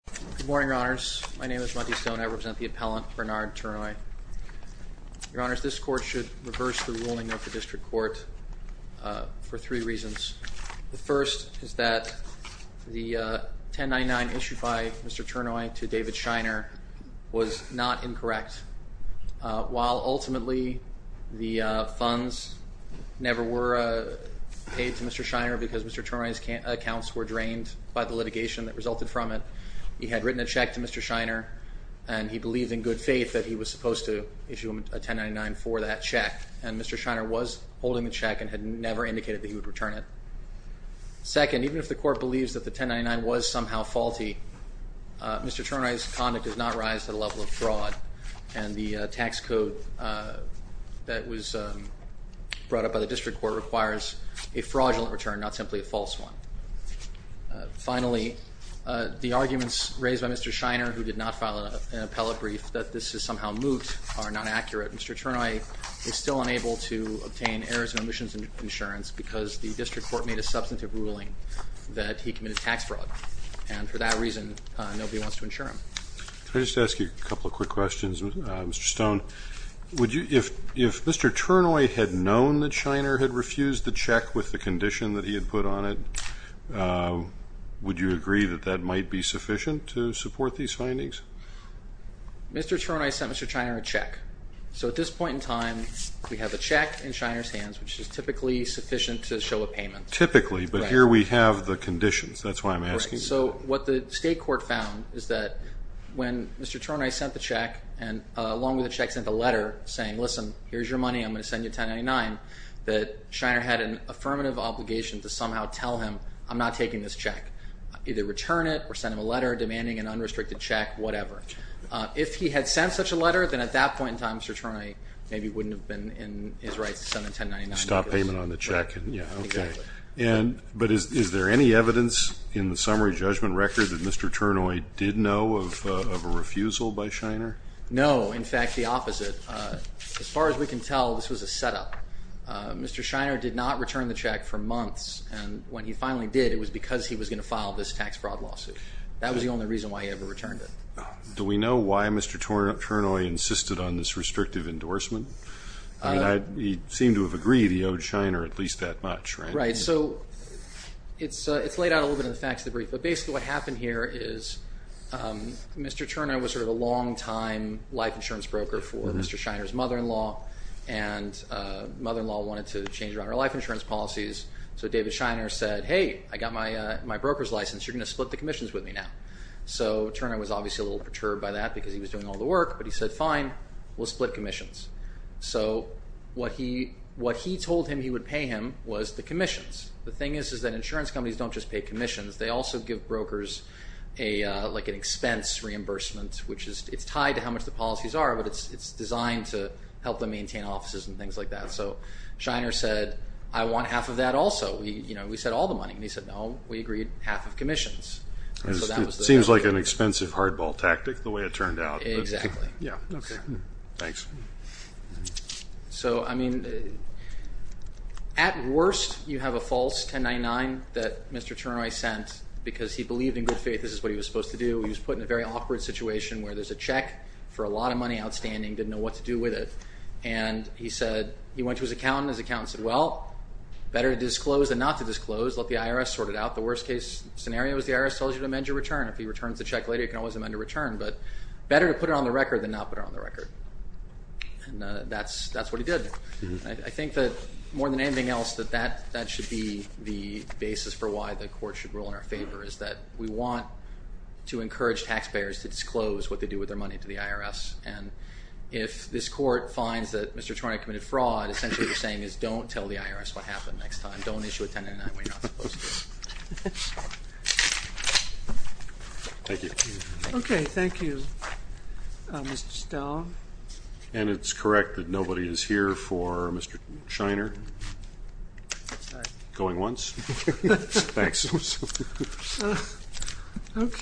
Good morning, your honors. My name is Monty Stone. I represent the appellant Bernard Turnoy. Your honors, this court should reverse the ruling of the district court for three reasons. The first is that the 1099 issued by Mr. Turnoy to David Shiner was not incorrect. While ultimately the funds never were paid to Mr. Shiner because Mr. Turnoy's accounts were drained by the litigation that resulted from it, he had written a check to Mr. Shiner and he believed in good faith that he was supposed to issue a 1099 for that check, and Mr. Shiner was holding the check and had never indicated that he would return it. Second, even if the court believes that the 1099 was somehow faulty, Mr. Turnoy's conduct does not rise to the level of fraud, and the tax code that was brought up by the district court requires a fraudulent return, not simply a false one. Finally, the arguments raised by Mr. Shiner, who did not file an appellate brief, that this is somehow moot are not accurate. Mr. Turnoy is still unable to obtain errors and omissions insurance because the district court made a substantive ruling that he committed tax fraud, and for that reason nobody wants to insure him. Can I just ask you a couple of quick questions, Mr. Stone? If Mr. Turnoy had known that Shiner had refused the check with the condition that he had put on it, would you agree that that might be sufficient to support these findings? Mr. Turnoy sent Mr. Shiner a check, so at this point in time we have the check in Shiner's hands, which is typically sufficient to show a payment. Typically, but here we have the conditions, that's why I'm asking. What the state court found is that when Mr. Turnoy sent the check and along with the check sent a letter saying, listen, here's your money, I'm going to send you I had an affirmative obligation to somehow tell him, I'm not taking this check. Either return it or send him a letter demanding an unrestricted check, whatever. If he had sent such a letter, then at that point in time, Mr. Turnoy maybe wouldn't have been in his rights to send a 1099. Stop payment on the check. But is there any evidence in the summary judgment record that Mr. Turnoy did know of a refusal by Shiner? No, in fact the opposite. As far as we can tell, this was a setup. Mr. Shiner did not return the check for months, and when he finally did, it was because he was going to file this tax fraud lawsuit. That was the only reason why he ever returned it. Do we know why Mr. Turnoy insisted on this restrictive endorsement? He seemed to have agreed he owed Shiner at least that much, right? Right, so it's laid out a little bit in the facts of the brief, but basically what happened here is Mr. Turnoy was sort of a long-time life insurance broker for Mr. Shiner's mother-in-law and mother-in-law wanted to change around her life insurance policies so David Shiner said, hey, I got my broker's license, you're going to split the commissions with me now. So Turnoy was obviously a little perturbed by that because he was doing all the work, but he said, fine, we'll split commissions. What he told him he would pay him was the commissions. The thing is that insurance companies don't just pay commissions, they also give brokers an expense reimbursement, which is tied to how much the policies are but it's designed to help them maintain offices and things like that. Shiner said, I want half of that also. We said all the money, and he said, no we agreed half of commissions. It seems like an expensive hardball tactic the way it turned out. Exactly. At worst you have a false 1099 that Mr. Turnoy sent because he believed in good faith this is what he was supposed to do. He was put in a very awkward situation where there's a check for a lot of money outstanding, didn't know what to do with it and he said, he went to his accountant and his accountant said, well, better to disclose than not to disclose. Let the IRS sort it out. The worst case scenario is the IRS tells you to amend your return. If he returns the check later, you can always amend your return, but better to put it on the record than not put it on the record. And that's what he did. I think that more than anything else that that should be the basis for why the court should rule in our favor is that we want to encourage taxpayers to disclose what they do with their money to the IRS and if this court finds that Mr. Turnoy committed fraud, essentially what you're saying is don't tell the IRS what happened next time. Don't issue a 1099 when you're not supposed to. Thank you. Okay, thank you. Mr. Stahl. And it's correct that nobody is here for Mr. Scheiner. Sorry. Going once. Thanks. Okay.